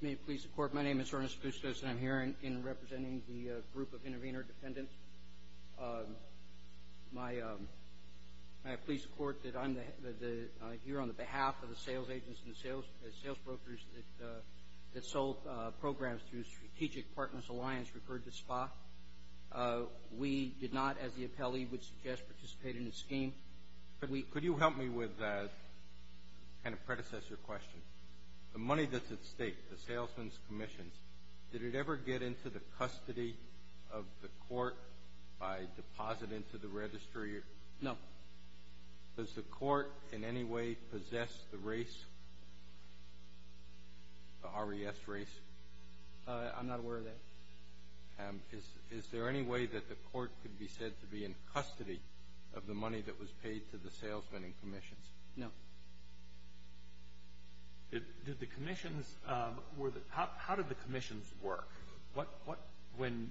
May it please the Court, my name is Ernest Bustos and I'm here in representing the group of intervener defendants. May it please the Court that I'm here on the behalf of the sales agents and the sales brokers that sold programs through Strategic Partners Alliance, referred to SPA. We did not, as the appellee would suggest, participate in the scheme. Could you help me with a kind of predecessor question? The money that's at stake, the salesman's commission, did it ever get into the custody of the court by deposit into the registry? No. Does the court in any way possess the race, the RES race? I'm not aware of that. Is there any way that the court could be said to be in custody of the money that was paid to the salesman and commissions? No. How did the commissions work? When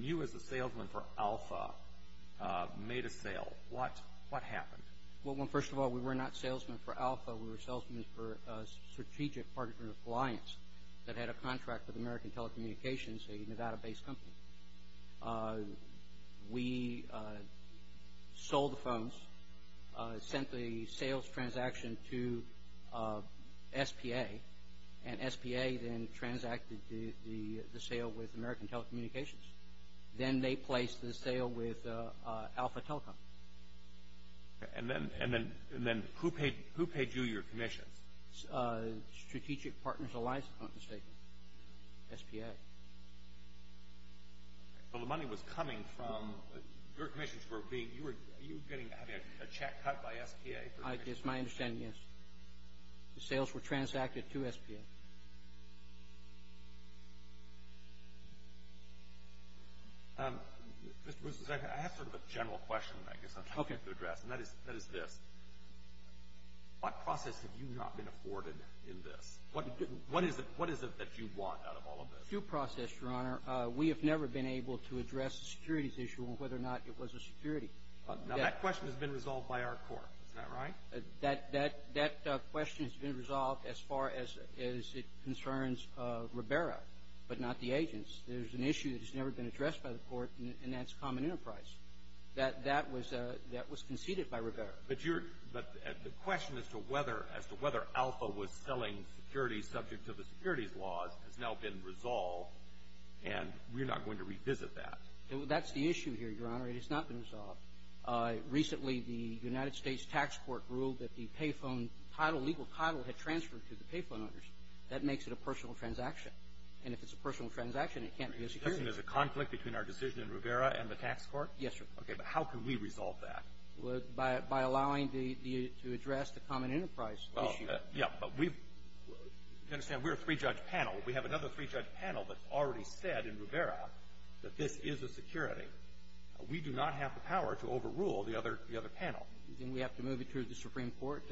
you as the salesman for Alpha made a sale, what happened? Well, first of all, we were not salesmen for Alpha. We were salesmen for Strategic Partners Alliance that had a contract with American Telecommunications, a Nevada-based company. We sold the phones, sent the sales transaction to SPA, and SPA then transacted the sale with American Telecommunications. Then they placed the sale with Alpha Telecom. And then who paid you your commissions? Strategic Partners Alliance, if I'm not mistaken. SPA. Well, the money was coming from, your commissions were being, you were getting a check cut by SPA? It's my understanding, yes. The sales were transacted to SPA. Mr. Bruce, I have sort of a general question I guess I'm trying to address, and that is this. What process have you not been afforded in this? What is it that you want out of all of this? Due process, Your Honor. We have never been able to address the securities issue and whether or not it was a security. Now, that question has been resolved by our court. Isn't that right? That question has been resolved as far as it concerns Ribera, but not the agents. There's an issue that has never been addressed by the court, and that's common enterprise. That was conceded by Ribera. But the question as to whether Alpha was selling securities subject to the securities laws has now been resolved, and we're not going to revisit that. That's the issue here, Your Honor. It has not been resolved. Recently, the United States Tax Court ruled that the pay phone title, legal title, had transferred to the pay phone owners. That makes it a personal transaction. And if it's a personal transaction, it can't be a security. You're suggesting there's a conflict between our decision in Ribera and the tax court? Yes, sir. Okay. But how can we resolve that? By allowing the to address the common enterprise issue. Well, yeah, but we understand we're a three-judge panel. We have another three-judge panel that's already said in Ribera that this is a security. We do not have the power to overrule the other panel. Then we have to move it to the Supreme Court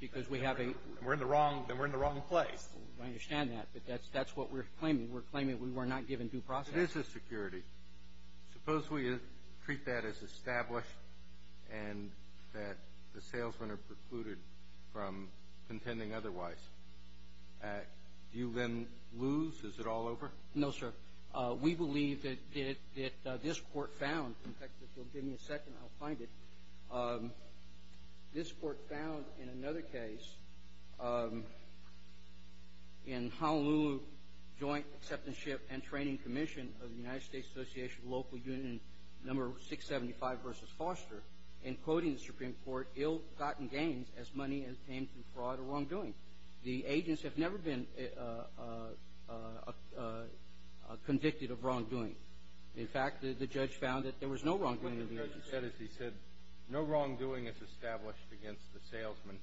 because we have a We're in the wrong place. I understand that, but that's what we're claiming. We're claiming we were not given due process. It is a security. Suppose we treat that as established and that the salesmen are precluded from contending otherwise. Do you then lose? Is it all over? No, sir. We believe that this court found, in fact, if you'll give me a second, I'll find it. This court found in another case, in Honolulu Joint Acceptanceship and the United States Association of Local Unions, number 675 versus Foster, in quoting the Supreme Court, ill-gotten gains as money obtained through fraud or wrongdoing. The agents have never been convicted of wrongdoing. In fact, the judge found that there was no wrongdoing. What the judge said is he said, no wrongdoing is established against the salesmen,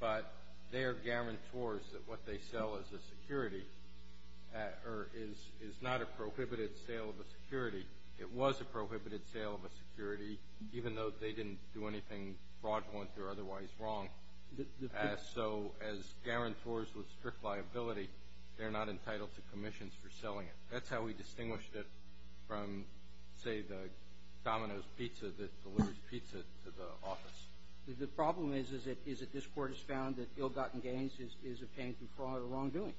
but they are guarantors that what they sell as a security is not a prohibited sale of a security. It was a prohibited sale of a security, even though they didn't do anything fraudulent or otherwise wrong. So as guarantors with strict liability, they're not entitled to commissions for selling it. That's how we distinguished it from, say, the Domino's Pizza that delivers pizza to the office. The problem is that this court has found that ill-gotten gains is obtained through fraud or wrongdoing.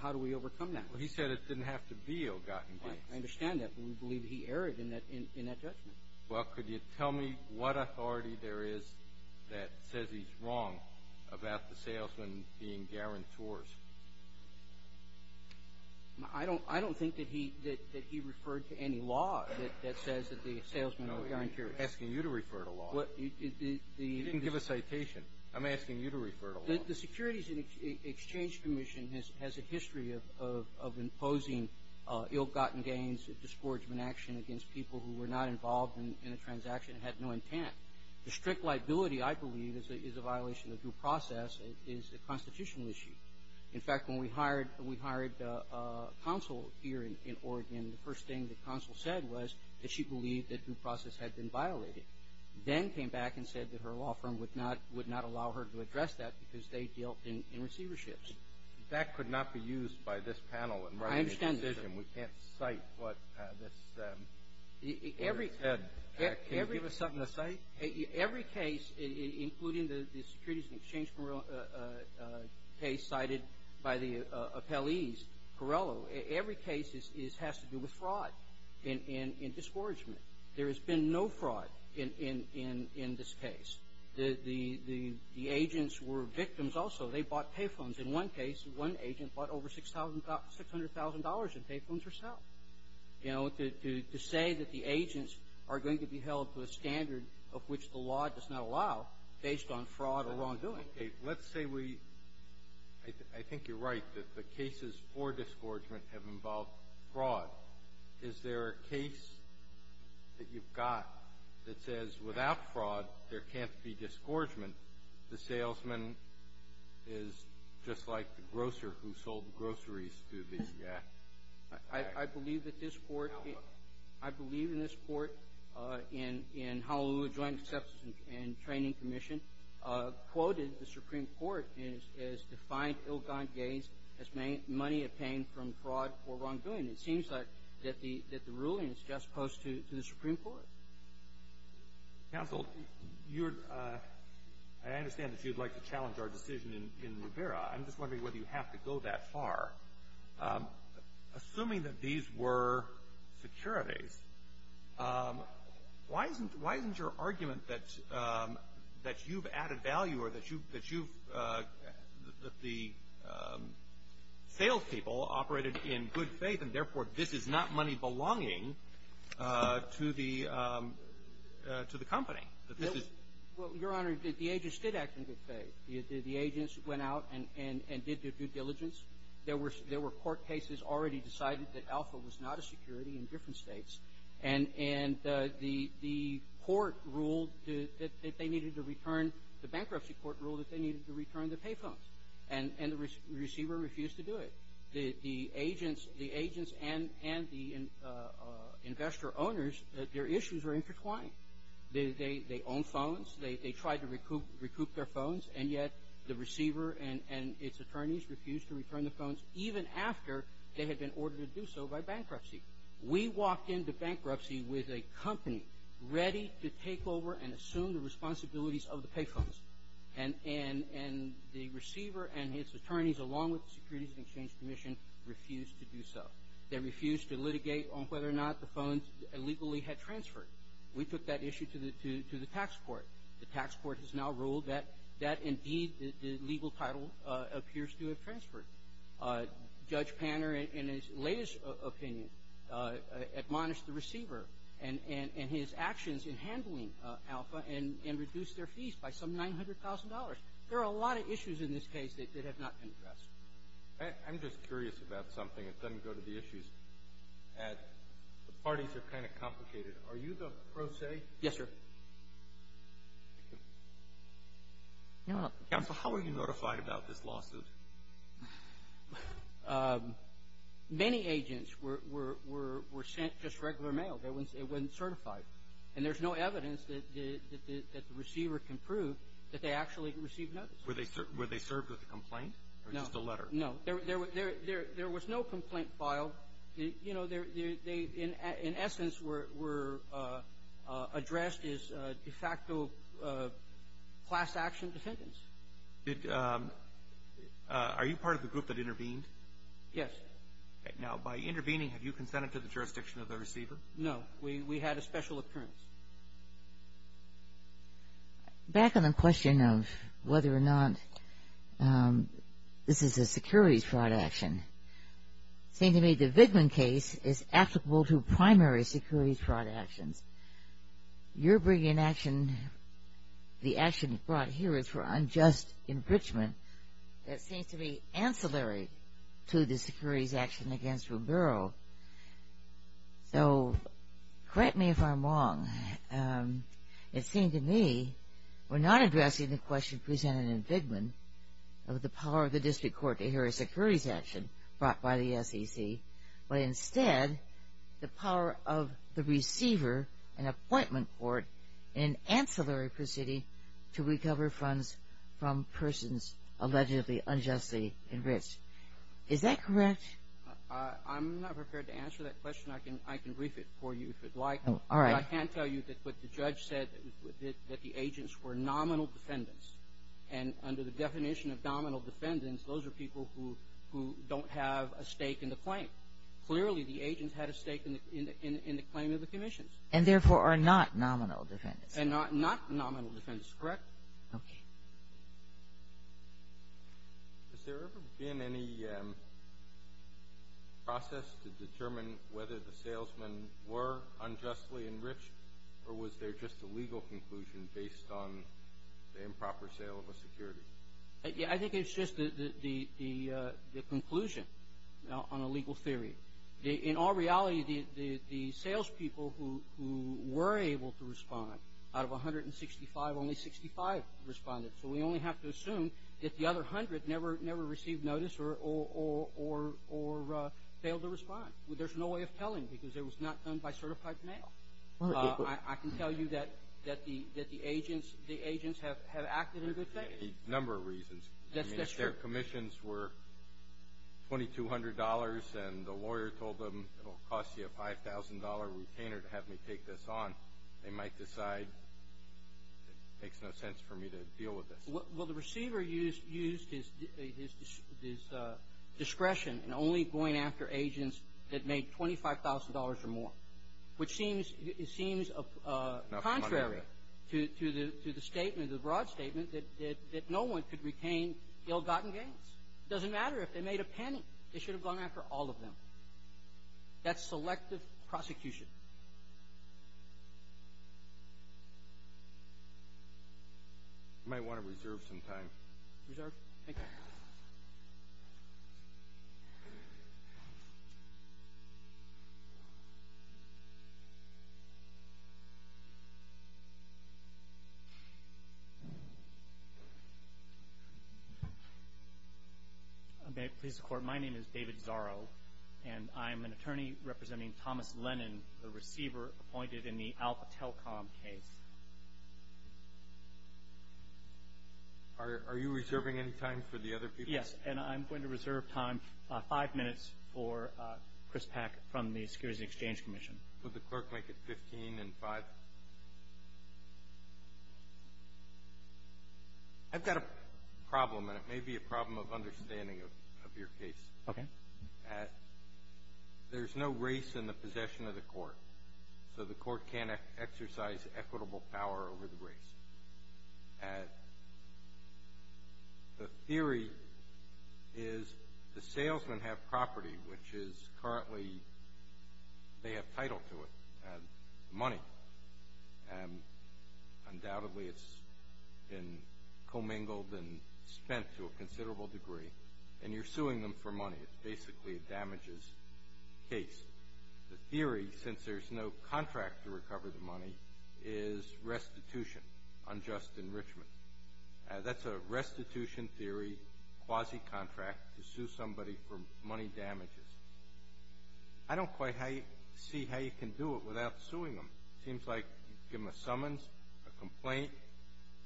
How do we overcome that? Well, he said it didn't have to be ill-gotten gains. I understand that, but we believe he erred in that judgment. Well, could you tell me what authority there is that says he's wrong about the salesmen being guarantors? I don't think that he referred to any law that says that the salesmen are guarantors. No, I'm asking you to refer to law. You didn't give a citation. I'm asking you to refer to law. The Securities and Exchange Commission has a history of imposing ill-gotten gains, a disgorgement action against people who were not involved in a transaction and had no intent. The strict liability, I believe, is a violation of due process. It is a constitutional issue. In fact, when we hired counsel here in Oregon, the first thing that counsel said was that she believed that due process had been violated, then came back and said that her law firm would not allow her to address that because they dealt in receiverships. That could not be used by this panel in writing a decision. I understand that, sir. We can't cite what this person said. Can you give us something to cite? Every case, including the Securities and Exchange case cited by the appellees, Corrello, every case has to do with fraud and disgorgement. There has been no fraud in this case. The agents were victims also. They bought pay phones. In one case, one agent bought over $600,000 in pay phones herself, you know, to say that the agents are going to be held to a standard of which the law does not allow based on fraud or wrongdoing. Let's say we – I think you're right that the cases for disgorgement have got that says without fraud, there can't be disgorgement. The salesman is just like the grocer who sold the groceries to these guys. I believe that this court – I believe in this court in Honolulu Joint Acceptance and Training Commission quoted the Supreme Court as defined ill-gotten gains as money obtained from fraud or wrongdoing. It seems like that the ruling is just opposed to the Supreme Court. Counsel, you're – I understand that you'd like to challenge our decision in Rivera. I'm just wondering whether you have to go that far. Assuming that these were securities, why isn't your argument that you've added value or that you've – that the salespeople operated in good faith and, therefore, this is not money belonging to the company, that this is – Well, Your Honor, the agents did act in good faith. The agents went out and did their due diligence. There were court cases already decided that Alpha was not a security in different states, and the court ruled that they needed to return – the bankruptcy court ruled that they needed to return the pay phones, and the receiver refused to do it. The agents and the investor owners, their issues were intertwined. They owned phones. They tried to recoup their phones, and yet the receiver and its attorneys refused to return the phones even after they had been ordered to do so by bankruptcy. We walked into bankruptcy with a company ready to take on the responsibilities of the pay phones, and the receiver and his attorneys, along with the Securities and Exchange Commission, refused to do so. They refused to litigate on whether or not the phones illegally had transferred. We took that issue to the – to the tax court. The tax court has now ruled that, indeed, the legal title appears to have transferred. Judge Panner, in his latest opinion, admonished the receiver and his actions in handling Alpha and reduced their fees by some $900,000. There are a lot of issues in this case that have not been addressed. I'm just curious about something that doesn't go to the issues. The parties are kind of complicated. Are you the pro se? Yes, sir. Counsel, how were you notified about this lawsuit? Many agents were sent just regular mail. It wasn't certified. And there's no evidence that the receiver can prove that they actually received notice. Were they served with a complaint or just a letter? No. There was no complaint filed. You know, they, in essence, were addressed as de facto class action defendants. Are you part of the group that intervened? Yes. Now, by intervening, have you consented to the jurisdiction of the receiver? No. We had a special occurrence. Back on the question of whether or not this is a securities fraud action, it seems to me the Vigman case is applicable to primary securities fraud actions. You're bringing an action, the action brought here is for unjust enrichment that seems to be ancillary to the securities action against Rubiro. So correct me if I'm wrong. It seemed to me we're not addressing the question presented in Vigman of the power of the district court to hear a securities action brought by the SEC, but instead the power of the receiver, an appointment court, an ancillary proceeding to recover funds from persons allegedly unjustly enriched. Is that correct? I'm not prepared to answer that question. I can brief it for you if you'd like. All right. But I can tell you that what the judge said, that the agents were nominal defendants. And under the definition of nominal defendants, those are people who don't have a stake in the claim. Clearly, the agents had a stake in the claim of the commissions. And therefore are not nominal defendants. And not nominal defendants, correct? Okay. Has there ever been any process to determine whether the salesmen were unjustly enriched, or was there just a legal conclusion based on the improper sale of a security? I think it's just the conclusion on a legal theory. In all reality, the salespeople who were able to respond, out of 165, only 65 responded. So we only have to assume that the other 100 never received notice or failed to respond. There's no way of telling because it was not done by certified mail. I can tell you that the agents have acted in a good fashion. A number of reasons. I mean, if their commissions were $2,200 and the lawyer told them it will cost you a $5,000 retainer to have me take this on, they might decide it makes no sense for me to deal with this. Well, the receiver used his discretion in only going after agents that made $25,000 or more, which seems contrary to the statement, the broad statement, that no one could retain ill-gotten gains. It doesn't matter if they made a penny. They should have gone after all of them. That's selective prosecution. You might want to reserve some time. Reserve? Thank you. Thank you. May it please the Court, my name is David Zorro, and I'm an attorney representing Thomas Lennon, the receiver appointed in the Alpatelcom case. Are you reserving any time for the other people? Yes, and I'm going to reserve time, five minutes, for Chris Pack from the Securities and Exchange Commission. Would the clerk make it 15 and five? I've got a problem, and it may be a problem of understanding of your case. Okay. There's no race in the possession of the court, so the court can't exercise equitable power over the race. The theory is the salesmen have property, which is currently they have title to it, money, and undoubtedly it's been commingled and spent to a considerable degree, and you're suing them for money. It's basically a damages case. The theory, since there's no contract to recover the money, is restitution, unjust enrichment. That's a restitution theory, quasi-contract, to sue somebody for money damages. I don't quite see how you can do it without suing them. It seems like you give them a summons, a complaint.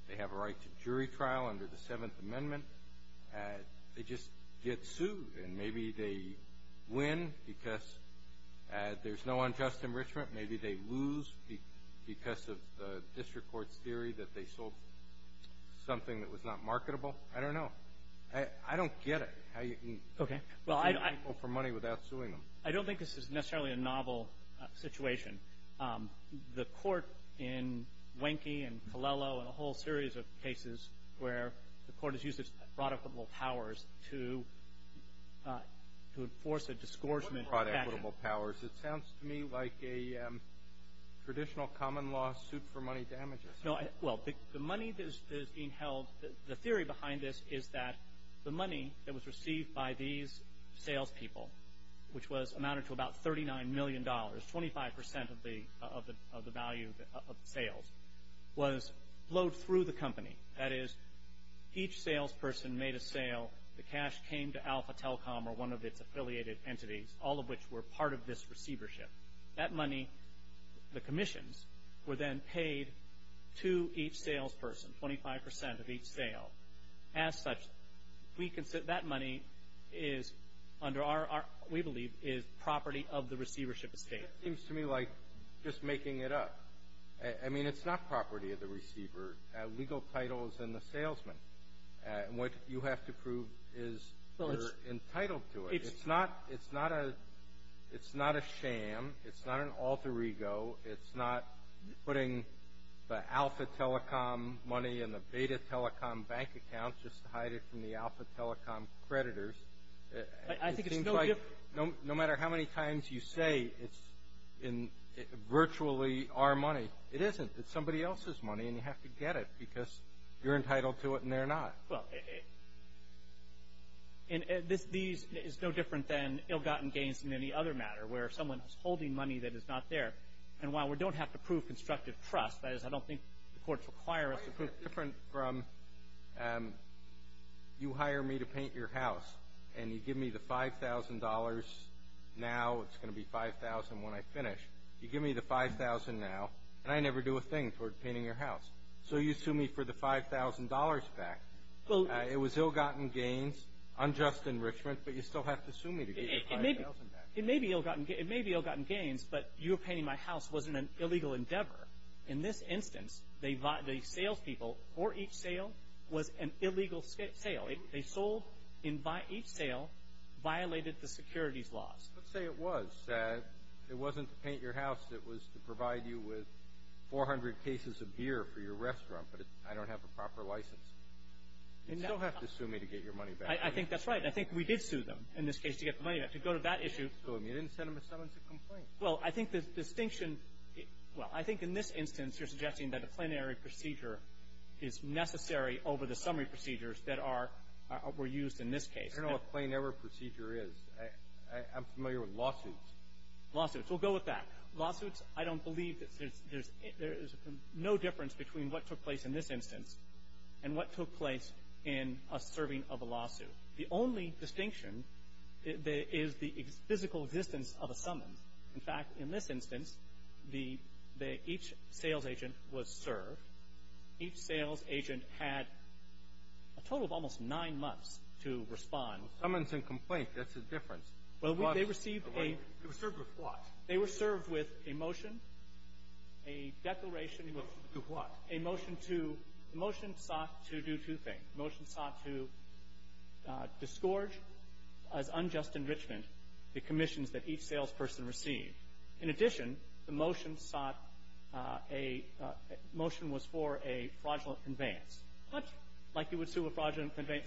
They have a right to jury trial under the Seventh Amendment. They just get sued, and maybe they win because there's no unjust enrichment. Maybe they lose because of the district court's theory that they sold something that was not marketable. I don't know. I don't get it, how you can sue people for money without suing them. I don't think this is necessarily a novel situation. The court in Wenke and Colello and a whole series of cases where the court has used its productable powers to enforce a disgorgement. What do you mean by equitable powers? It sounds to me like a traditional common law suit for money damages. Well, the money that is being held, the theory behind this is that the money that was received by these salespeople, which amounted to about $39 million, 25% of the value of sales, was flowed through the company. That is, each salesperson made a sale. The cash came to Alpha Telecom or one of its affiliated entities, all of which were part of this receivership. That money, the commissions, were then paid to each salesperson, 25% of each sale. As such, that money is, we believe, property of the receivership estate. It seems to me like just making it up. I mean, it's not property of the receiver. Legal title is in the salesman. What you have to prove is you're entitled to it. It's not a sham. It's not an alter ego. It's not putting the Alpha Telecom money in the Beta Telecom bank account just to hide it from the Alpha Telecom creditors. It seems like no matter how many times you say it's virtually our money, it isn't. It's somebody else's money, and you have to get it because you're entitled to it and they're not. Well, this is no different than ill-gotten gains in any other matter where someone is holding money that is not there. And while we don't have to prove constructive trust, that is, I don't think the courts require us to prove it. It's different from you hire me to paint your house and you give me the $5,000 now. It's going to be $5,000 when I finish. You give me the $5,000 now, and I never do a thing toward painting your house. So you sue me for the $5,000 back. It was ill-gotten gains, unjust enrichment, but you still have to sue me to get your $5,000 back. It may be ill-gotten gains, but you painting my house wasn't an illegal endeavor. In this instance, the salespeople for each sale was an illegal sale. They sold each sale, violated the securities laws. Let's say it was. It wasn't to paint your house. It was to provide you with 400 cases of beer for your restaurant, but I don't have a proper license. You still have to sue me to get your money back. I think that's right. I think we did sue them in this case to get the money back. To go to that issue. You didn't sue them. You didn't send them to someone to complain. Well, I think the distinction – well, I think in this instance you're suggesting that a plenary procedure is necessary over the summary procedures that are – were used in this case. I don't know what a plenary procedure is. I'm familiar with lawsuits. Lawsuits. We'll go with that. Lawsuits, I don't believe that there's – there is no difference between what took place in this instance and what took place in a serving of a lawsuit. The only distinction is the physical existence of a summons. In fact, in this instance, the – each sales agent was served. Each sales agent had a total of almost nine months to respond. Summons and complaint, that's the difference. Well, they received a – They were served with what? They were served with a motion, a declaration of – To what? A motion to – the motion sought to do two things. The motion sought to disgorge as unjust enrichment the commissions that each salesperson received. In addition, the motion sought a – the motion was for a fraudulent conveyance. Let's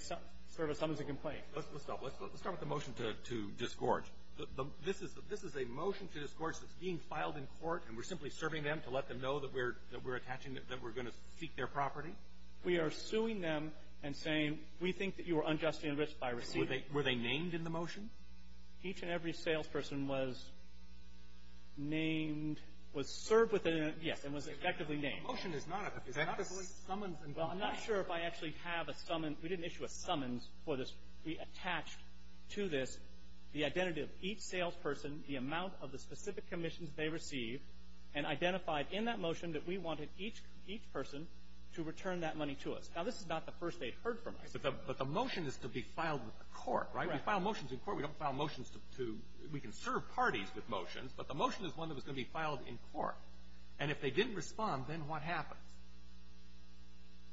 stop. Let's start with the motion to disgorge. This is a motion to disgorge that's being filed in court, and we're simply serving them to let them know that we're attaching – that we're going to seek their property? We are suing them and saying, we think that you were unjustly enriched by receiving. Were they named in the motion? Each and every salesperson was named – was served with a – yes, and was effectively named. The motion is not effectively – Summons and complaint. Well, I'm not sure if I actually have a – we didn't issue a summons for this. We attached to this the identity of each salesperson, the amount of the specific commissions they received, and identified in that motion that we wanted each person to return that money to us. Now, this is not the first they'd heard from us. But the motion is to be filed with the court, right? Right. We file motions in court. We don't file motions to – we can serve parties with motions, but the motion is one that was going to be filed in court. And if they didn't respond, then what happens?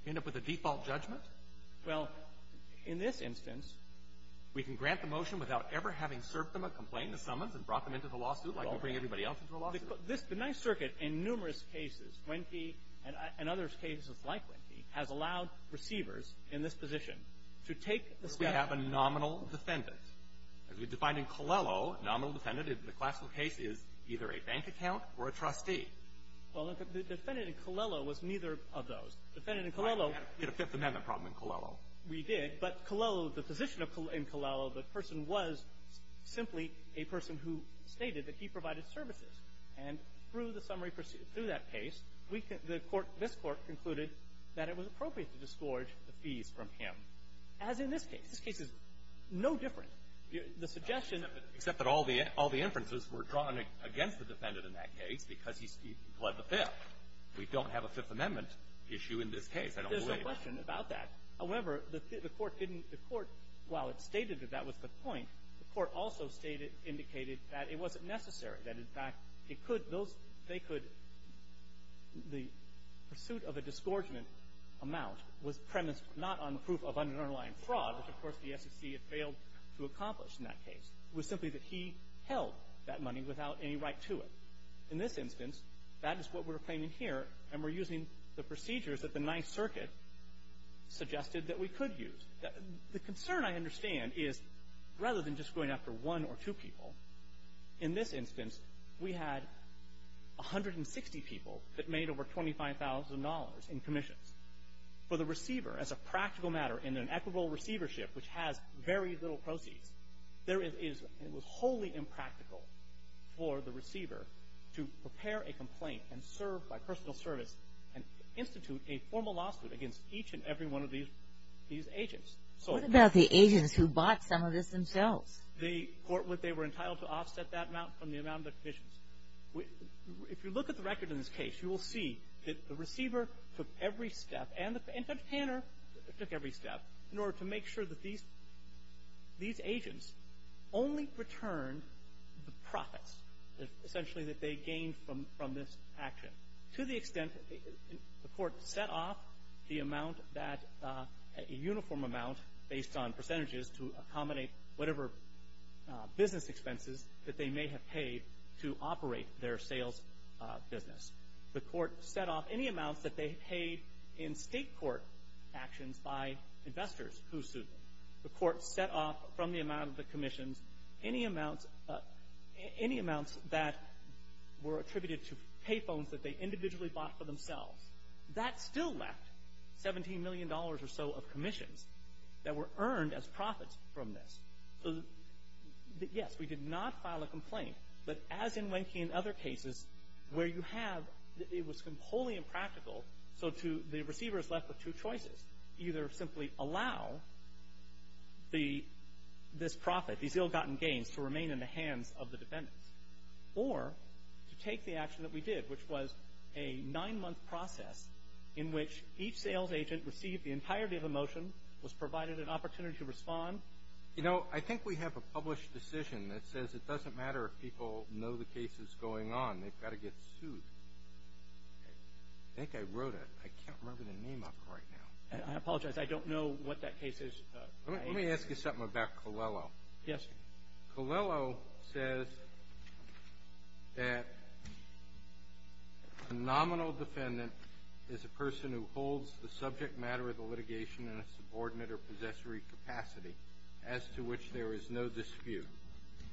End up with a default judgment? Well, in this instance, we can grant the motion without ever having served them a complaint, a summons, and brought them into the lawsuit like we bring everybody else into a lawsuit. This – the Ninth Circuit, in numerous cases, Wenke and other cases like Wenke, has allowed receivers in this position to take the – We have a nominal defendant. As we defined in Colello, nominal defendant in the classical case is either a bank account or a trustee. Well, the defendant in Colello was neither of those. Defendant in Colello – We had a Fifth Amendment problem in Colello. We did. But Colello – the position in Colello, the person was simply a person who stated that he provided services. And through the summary – through that case, we – the court – this court concluded that it was appropriate to disgorge the fees from him, as in this case. This case is no different. The suggestion – Except that all the – all the inferences were drawn against the defendant in that case because he pled the Fifth. We don't have a Fifth Amendment issue in this case, I don't believe. There's no question about that. However, the court didn't – the court, while it stated that that was the point, the court also stated – indicated that it wasn't necessary, that, in fact, it could – those – they could – the pursuit of a disgorgement amount was premised not on proof of underlying fraud, which, of course, the SEC had failed to accomplish in that case. It was simply that he held that money without any right to it. In this instance, that is what we're claiming here, and we're using the procedures that the Ninth Circuit suggested that we could use. The concern, I understand, is rather than just going after one or two people, in this instance, we had 160 people that made over $25,000 in commissions. For the receiver, as a practical matter, in an equitable receivership which has very little proceeds, there is – it was wholly impractical for the receiver to prepare a complaint and serve by personal service and institute a formal lawsuit against each and every one of these – these agents. So – What about the agents who bought some of this themselves? They – they were entitled to offset that amount from the amount of the commissions. If you look at the record in this case, you will see that the receiver took every step and the entertainer took every step in order to make sure that these – these agents only returned the profits, essentially, that they gained from – from this action, to the extent that the Court set off the amount that – a uniform amount based on percentages to accommodate whatever business expenses that they may have paid to operate their sales business. The Court set off any amounts that they paid in state court actions by investors who sued them. The Court set off from the amount of the commissions any amounts – any amounts that were attributed to pay phones that they individually bought for themselves. That still left $17 million or so of commissions that were earned as profits from this. Yes, we did not file a complaint. But as in Wenke and other cases, where you have – it was wholly impractical, so to – the receiver is left with two choices. Either simply allow the – this profit, these ill-gotten gains, to remain in the hands of the defendants, or to take the action that we did, which was a nine-month process in which each sales agent received the entirety of a motion, was provided an opportunity to respond. You know, I think we have a published decision that says it doesn't matter if people know the case is going on. They've got to get sued. I think I wrote it. I can't remember the name of it right now. I apologize. I don't know what that case is. Let me ask you something about Colello. Yes. Colello says that a nominal defendant is a person who holds the subject matter of the case as to which there is no dispute.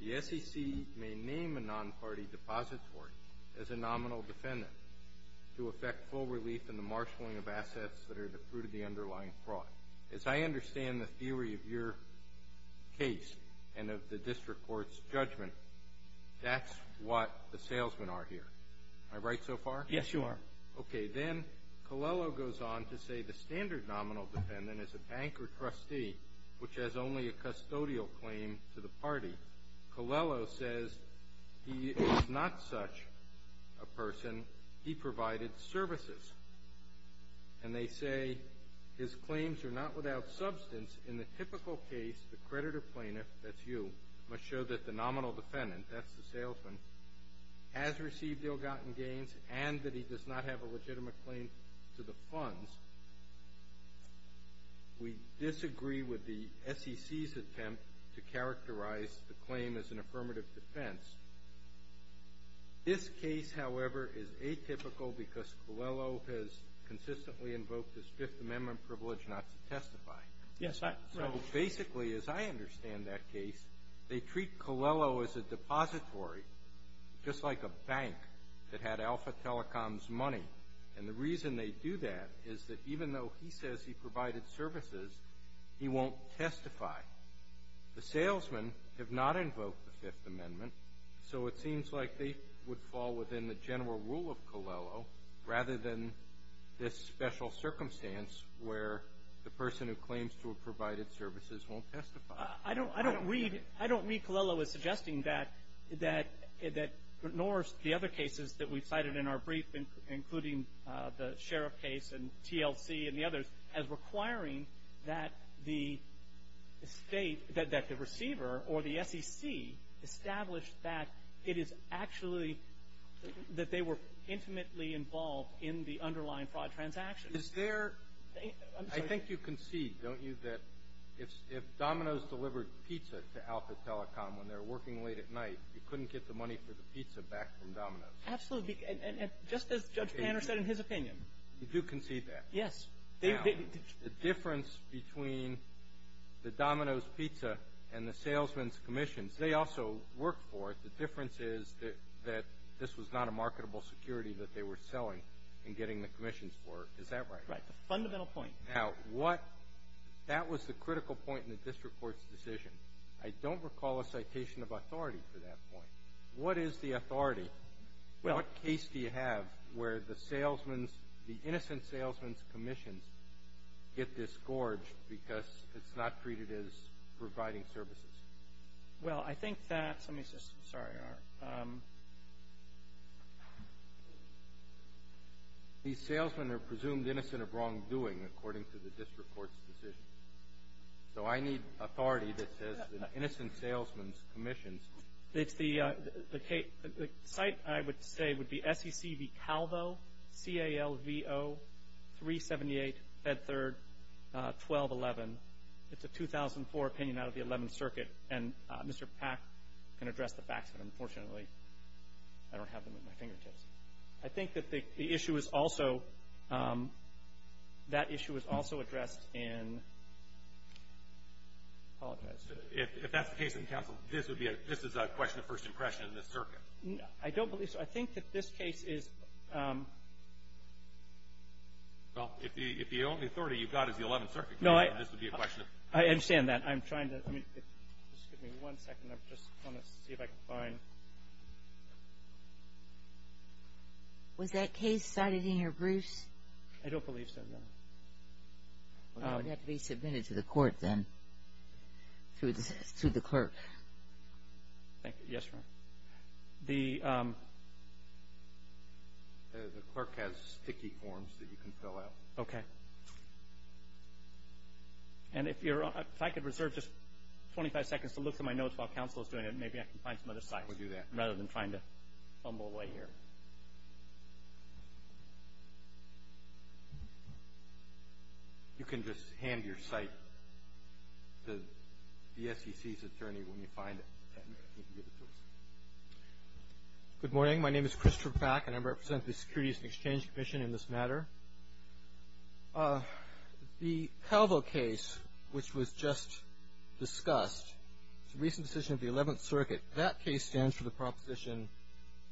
The SEC may name a non-party depository as a nominal defendant to effect full relief in the marshalling of assets that are the fruit of the underlying fraud. As I understand the theory of your case and of the district court's judgment, that's what the salesmen are here. Am I right so far? Yes, you are. Okay. Then Colello goes on to say the standard nominal defendant is a bank or trustee which has only a custodial claim to the party. Colello says he is not such a person. He provided services. And they say his claims are not without substance. In the typical case, the creditor plaintiff, that's you, must show that the nominal defendant, that's the salesman, has received ill-gotten gains and that he does not have a legitimate claim to the funds. We disagree with the SEC's attempt to characterize the claim as an affirmative defense. This case, however, is atypical because Colello has consistently invoked his Fifth Amendment privilege not to testify. Yes. So basically, as I understand that case, they treat Colello as a depository, just like a bank that had Alpha Telecom's money. And the reason they do that is that even though he says he provided services, he won't testify. The salesmen have not invoked the Fifth Amendment, so it seems like they would fall within the general rule of Colello rather than this special circumstance where the person who claims to have provided services won't testify. I don't read Colello as suggesting that, nor the other cases that we've cited in our brief, including the Sheriff case and TLC and the others, as requiring that the state, that the receiver or the SEC establish that it is actually that they were intimately involved in the underlying fraud transaction. Is there – I'm sorry. I think you concede, don't you, that if Domino's delivered pizza to Alpha Telecom when they were working late at night, you couldn't get the money for the pizza back from Domino's? Absolutely. And just as Judge Panner said in his opinion. You do concede that? Yes. Now, the difference between the Domino's pizza and the salesmen's commissions, they also worked for it. The difference is that this was not a marketable security that they were selling and getting the commissions for. Is that right? Right. That's a fundamental point. Now, what – that was the critical point in the district court's decision. I don't recall a citation of authority for that point. What is the authority? Well – What case do you have where the salesman's – the innocent salesman's commissions get disgorged because it's not treated as providing services? Well, I think that – let me just – sorry. There they are. These salesmen are presumed innocent of wrongdoing, according to the district court's decision. So I need authority that says the innocent salesman's commissions – It's the – the site, I would say, would be SEC v. Calvo, C-A-L-V-O, 378 Bedford, 1211. It's a 2004 opinion out of the 11th Circuit. And Mr. Pack can address the facts, but unfortunately, I don't have them at my fingertips. I think that the issue is also – that issue is also addressed in – I apologize. If that's the case in the council, this would be a – this is a question of first impression in the circuit. I don't believe so. I think that this case is – Well, if the only authority you've got is the 11th Circuit, this would be a question of – No, I understand that. I'm trying to – just give me one second. I just want to see if I can find – Was that case cited in your briefs? I don't believe so, no. Well, that would have to be submitted to the court then through the clerk. Thank you. Yes, ma'am. The – The clerk has sticky forms that you can fill out. Okay. And if you're – if I could reserve just 25 seconds to look through my notes while counsel is doing it, maybe I can find some other sites. We'll do that. Rather than trying to fumble away here. You can just hand your site to the SEC's attorney when you find it and he can give it to us. Good morning. My name is Christopher Pack, and I represent the Securities and Exchange Commission in this matter. The Palvo case, which was just discussed, is a recent decision of the 11th Circuit. That case stands for the proposition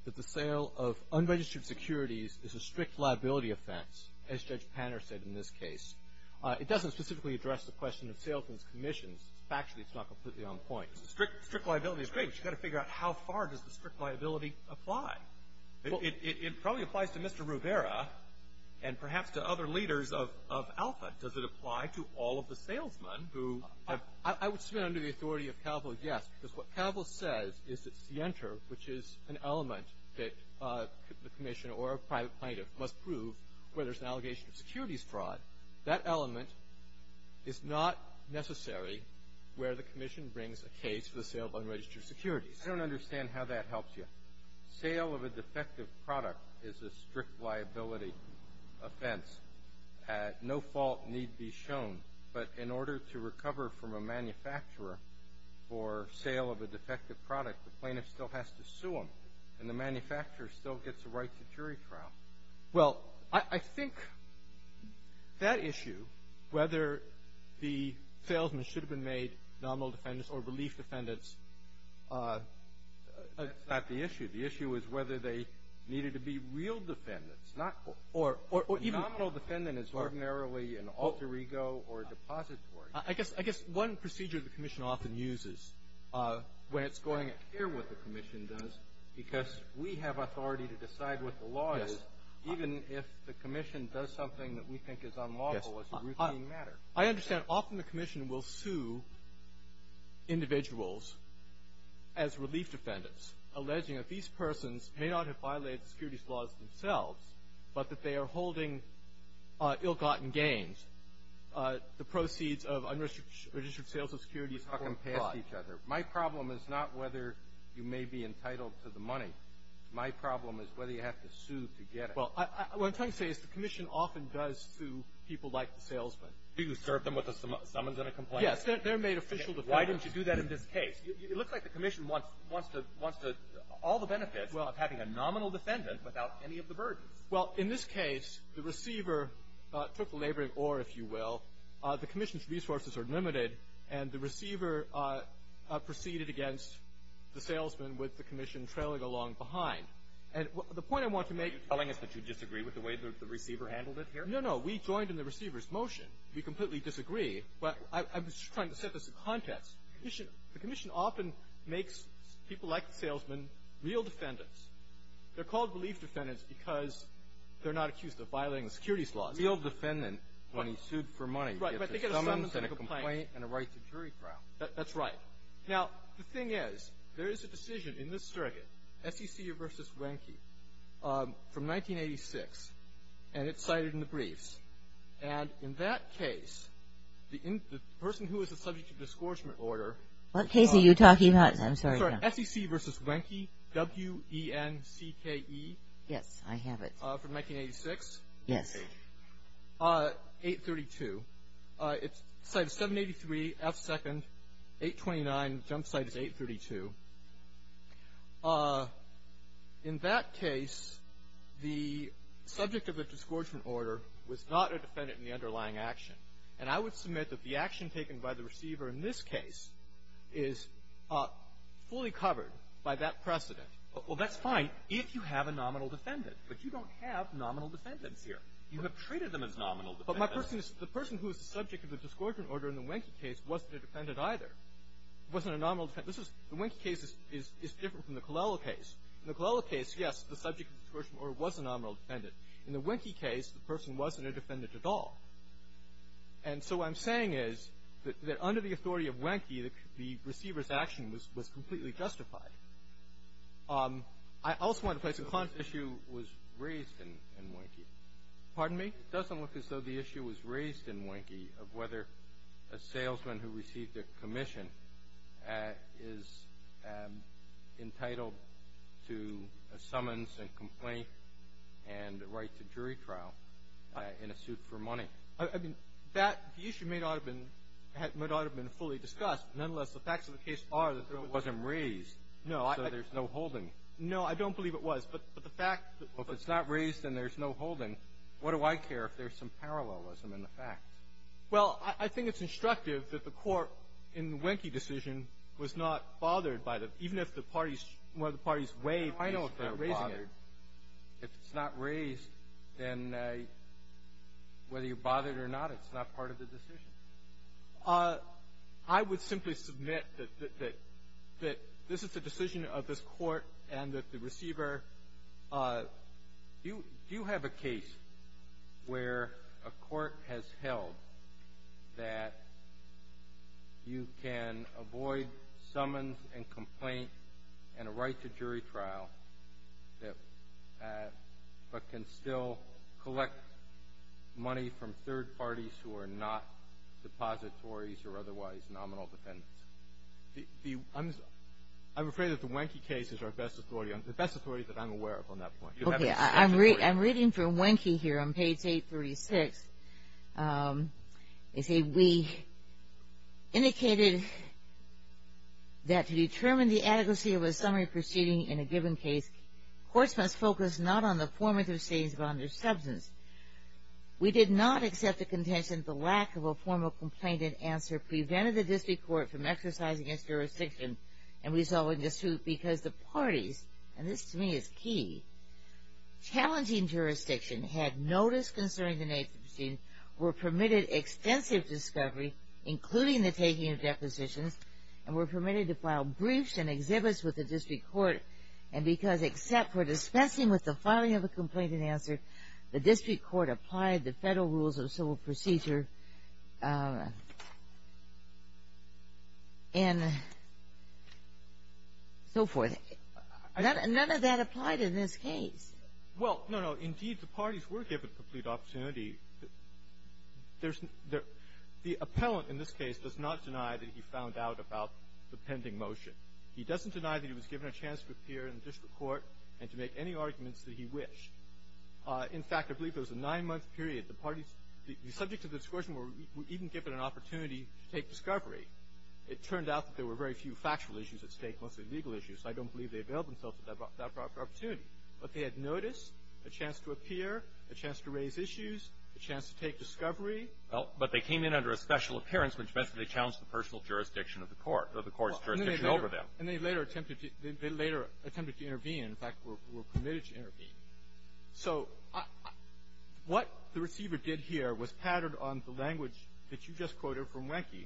that the sale of unregistered securities is a strict liability offense, as Judge Panner said in this case. It doesn't specifically address the question of salesmen's commissions. Factually, it's not completely on point. Strict liability is great, but you've got to figure out how far does the strict liability apply. It probably applies to Mr. Rivera and perhaps to other leaders of Alpha. Does it apply to all of the salesmen who have – I would submit under the authority of Palvo, yes. Because what Palvo says is it's the enter, which is an element that the commission or a private plaintiff must prove where there's an allegation of securities fraud. That element is not necessary where the commission brings a case for the sale of unregistered securities. I don't understand how that helps you. Sale of a defective product is a strict liability offense. No fault need be shown. But in order to recover from a manufacturer for sale of a defective product, the plaintiff still has to sue them, and the manufacturer still gets a right to jury trial. Well, I think that issue, whether the salesmen should have been made nominal defendants or relief defendants, that's not the issue. The issue is whether they needed to be real defendants, not – or even – A nominal defendant is ordinarily an alter ego or a depository. I guess one procedure the commission often uses when it's going to hear what the commission does, because we have authority to decide what the law is, even if the commission does something that we think is unlawful as a routine matter. I understand often the commission will sue individuals as relief defendants, alleging that these persons may not have violated the securities laws themselves, but that they are holding ill-gotten gains. The proceeds of unregistered sales of securities or fraud. You're talking past each other. My problem is not whether you may be entitled to the money. My problem is whether you have to sue to get it. Well, what I'm trying to say is the commission often does sue people like the salesmen. You serve them with a summons and a complaint. Yes. They're made official defendants. Why didn't you do that in this case? It looks like the commission wants to – all the benefits of having a nominal defendant without any of the burdens. Well, in this case, the receiver took the labor of ore, if you will. The commission's resources are limited, and the receiver proceeded against the salesman with the commission trailing along behind. And the point I want to make – Are you telling us that you disagree with the way the receiver handled it here? No, no. We joined in the receiver's motion. We completely disagree. I'm just trying to set this in context. The commission often makes people like the salesman real defendants. They're called belief defendants because they're not accused of violating the securities laws. A real defendant, when he's sued for money, gets a summons and a complaint and a right to jury trial. That's right. Now, the thing is, there is a decision in this surrogate, SEC v. Wenke, from 1986, and it's cited in the briefs. And in that case, the person who was the subject of the disgorgement order – What case are you talking about? I'm sorry. SEC v. Wenke, W-E-N-C-K-E. Yes, I have it. From 1986? Yes. 832. It's cited 783, F second, 829. The jump site is 832. In that case, the subject of the disgorgement order was not a defendant in the underlying action. And I would submit that the action taken by the receiver in this case is fully covered by that precedent. Well, that's fine if you have a nominal defendant. But you don't have nominal defendants here. You have treated them as nominal defendants. But my question is, the person who was the subject of the disgorgement order in the Wenke case wasn't a defendant either. It wasn't a nominal defendant. The Wenke case is different from the Colella case. In the Colella case, yes, the subject of the disgorgement order was a nominal defendant. In the Wenke case, the person wasn't a defendant at all. And so what I'm saying is that under the authority of Wenke, the receiver's action was completely justified. I also want to place – The issue was raised in Wenke. Pardon me? It doesn't look as though the issue was raised in Wenke of whether a salesman who received a commission is entitled to a summons and complaint and a right to jury trial in a suit for money. I mean, that – the issue may not have been – might not have been fully discussed. Nonetheless, the facts of the case are that there was – It wasn't raised. No, I – So there's no holding. No, I don't believe it was. But the fact that – Well, if it's not raised, then there's no holding. What do I care if there's some parallelism in the facts? Well, I think it's instructive that the Court in the Wenke decision was not bothered by the – even if the parties – whether the parties weighed – I know if they were bothered. If it's not raised, then whether you're bothered or not, it's not part of the decision. I would simply submit that this is the decision of this Court and that the receiver – Do you have a case where a court has held that you can avoid summons and complaint and a right to jury trial, but can still collect money from third parties who are not depositories or otherwise nominal defendants? I'm afraid that the Wenke case is our best authority. The best authority that I'm aware of on that point. Okay. I'm reading from Wenke here on page 836. They say, We indicated that to determine the adequacy of a summary proceeding in a given case, courts must focus not on the form of the proceedings but on their substance. We did not accept the contention that the lack of a formal complaint and answer prevented the district court from exercising its jurisdiction and resolving the suit because the parties – and this to me is key – of notice concerning the nature of the proceedings were permitted extensive discovery, including the taking of depositions, and were permitted to file briefs and exhibits with the district court, and because except for dispensing with the filing of a complaint and answer, the district court applied the federal rules of civil procedure and so forth. None of that applied in this case. Well, no, no. Indeed, the parties were given complete opportunity. There's no – the appellant in this case does not deny that he found out about the pending motion. He doesn't deny that he was given a chance to appear in the district court and to make any arguments that he wished. In fact, I believe there was a nine-month period. The parties subject to the discretion were even given an opportunity to take discovery. It turned out that there were very few factual issues at stake, mostly legal issues. I don't believe they availed themselves of that proper opportunity. But they had notice, a chance to appear, a chance to raise issues, a chance to take discovery. Well, but they came in under a special appearance, which meant that they challenged the personal jurisdiction of the court, or the court's jurisdiction over them. And they later attempted to – they later attempted to intervene. In fact, were permitted to intervene. So what the receiver did here was pattern on the language that you just quoted from Wenke,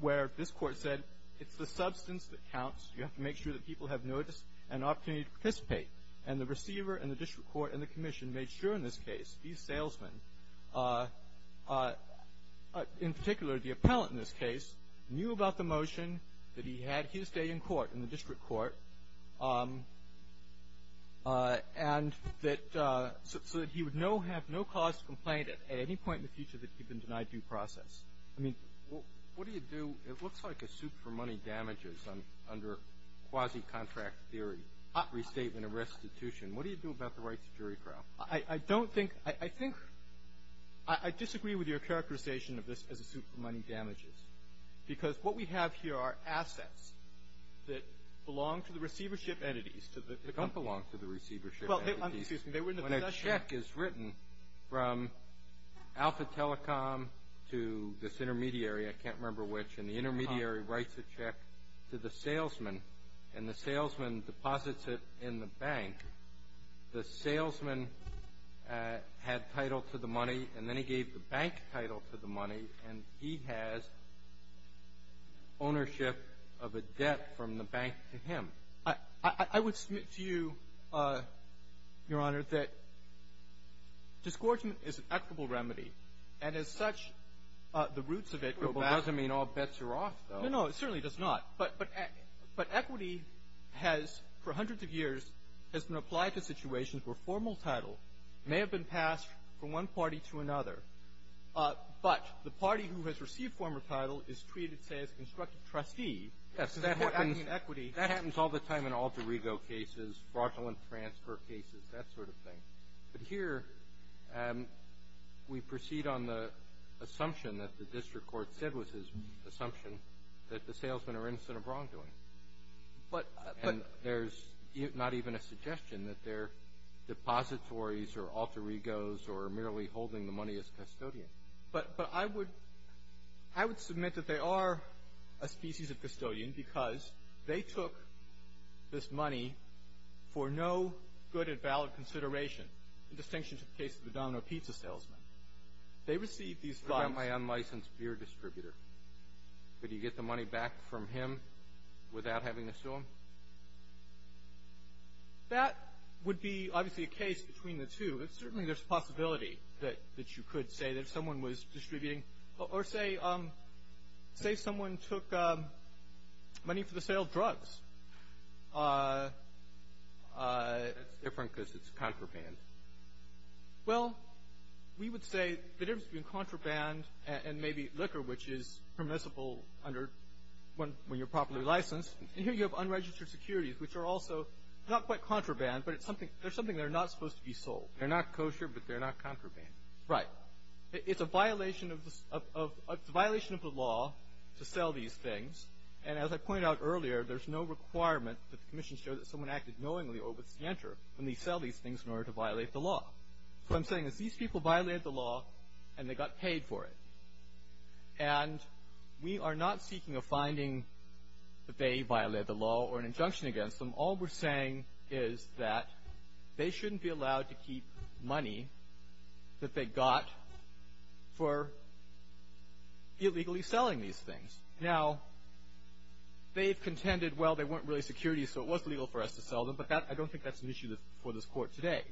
where this Court said it's the substance that counts. You have to make sure that people have notice and opportunity to participate. And the receiver and the district court and the commission made sure in this case, these salesmen, in particular the appellant in this case, knew about the motion that he had his day in court, in the district court, and that – so that he would no – have no cause to complain at any point in the future that he'd been denied due process. I mean, what do you do? It looks like a suit for money damages under quasi-contract theory, restatement of restitution. What do you do about the rights of jury trial? I don't think – I think – I disagree with your characterization of this as a suit for money damages, because what we have here are assets that belong to the receivership entities. They don't belong to the receivership entities. Well, excuse me. When a check is written from Alpha Telecom to this intermediary, I can't remember which, and the intermediary writes a check to the salesman, and the salesman deposits it in the bank. The salesman had title to the money, and then he gave the bank title to the money, and he has ownership of a debt from the bank to him. I would submit to you, Your Honor, that disgorgement is an equitable remedy. And as such, the roots of it go back – Well, it doesn't mean all bets are off, though. No, no. It certainly does not. But equity has, for hundreds of years, has been applied to situations where formal title may have been passed from one party to another, but the party who has received formal title is treated, say, as a constructive trustee. Yes. That happens all the time in alter ego cases, fraudulent transfer cases, that sort of thing. But here, we proceed on the assumption that the district court said was his assumption that the salesmen are innocent of wrongdoing. But – And there's not even a suggestion that they're depositories or alter egos or merely holding the money as custodian. But I would – I would submit that they are a species of custodian because they took this money for no good and valid consideration, in distinction to the case of the Domino Pizza salesman. They received these funds – What about my unlicensed beer distributor? Could you get the money back from him without having to sue him? That would be, obviously, a case between the two. But certainly, there's a possibility that you could say that someone was distributing or say – say someone took money for the sale of drugs. That's different because it's contraband. Well, we would say the difference between contraband and maybe liquor, which is permissible under – when you're properly licensed. And here, you have unregistered securities, which are also not quite contraband, but it's something – they're something that are not supposed to be sold. They're not kosher, but they're not contraband. Right. Now, it's a violation of – it's a violation of the law to sell these things. And as I pointed out earlier, there's no requirement that the Commission show that someone acted knowingly or with stance when they sell these things in order to violate the law. What I'm saying is these people violated the law, and they got paid for it. And we are not seeking a finding that they violated the law or an injunction against them. All we're saying is that they shouldn't be allowed to keep money that they got for illegally selling these things. Now, they've contended, well, they weren't really securities, so it was legal for us to sell them, but I don't think that's an issue for this Court today.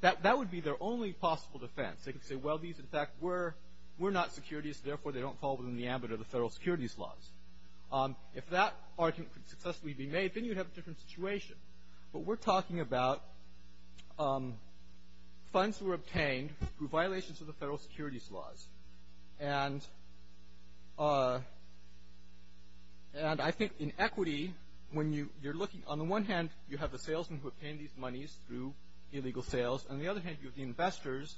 That would be their only possible defense. They could say, well, these, in fact, were not securities, therefore they don't fall within the ambit of the federal securities laws. If that argument could successfully be made, then you'd have a different situation. But we're talking about funds that were obtained through violations of the federal securities laws. And I think in equity, when you're looking – on the one hand, you have the salesmen who obtained these monies through illegal sales. On the other hand, you have the investors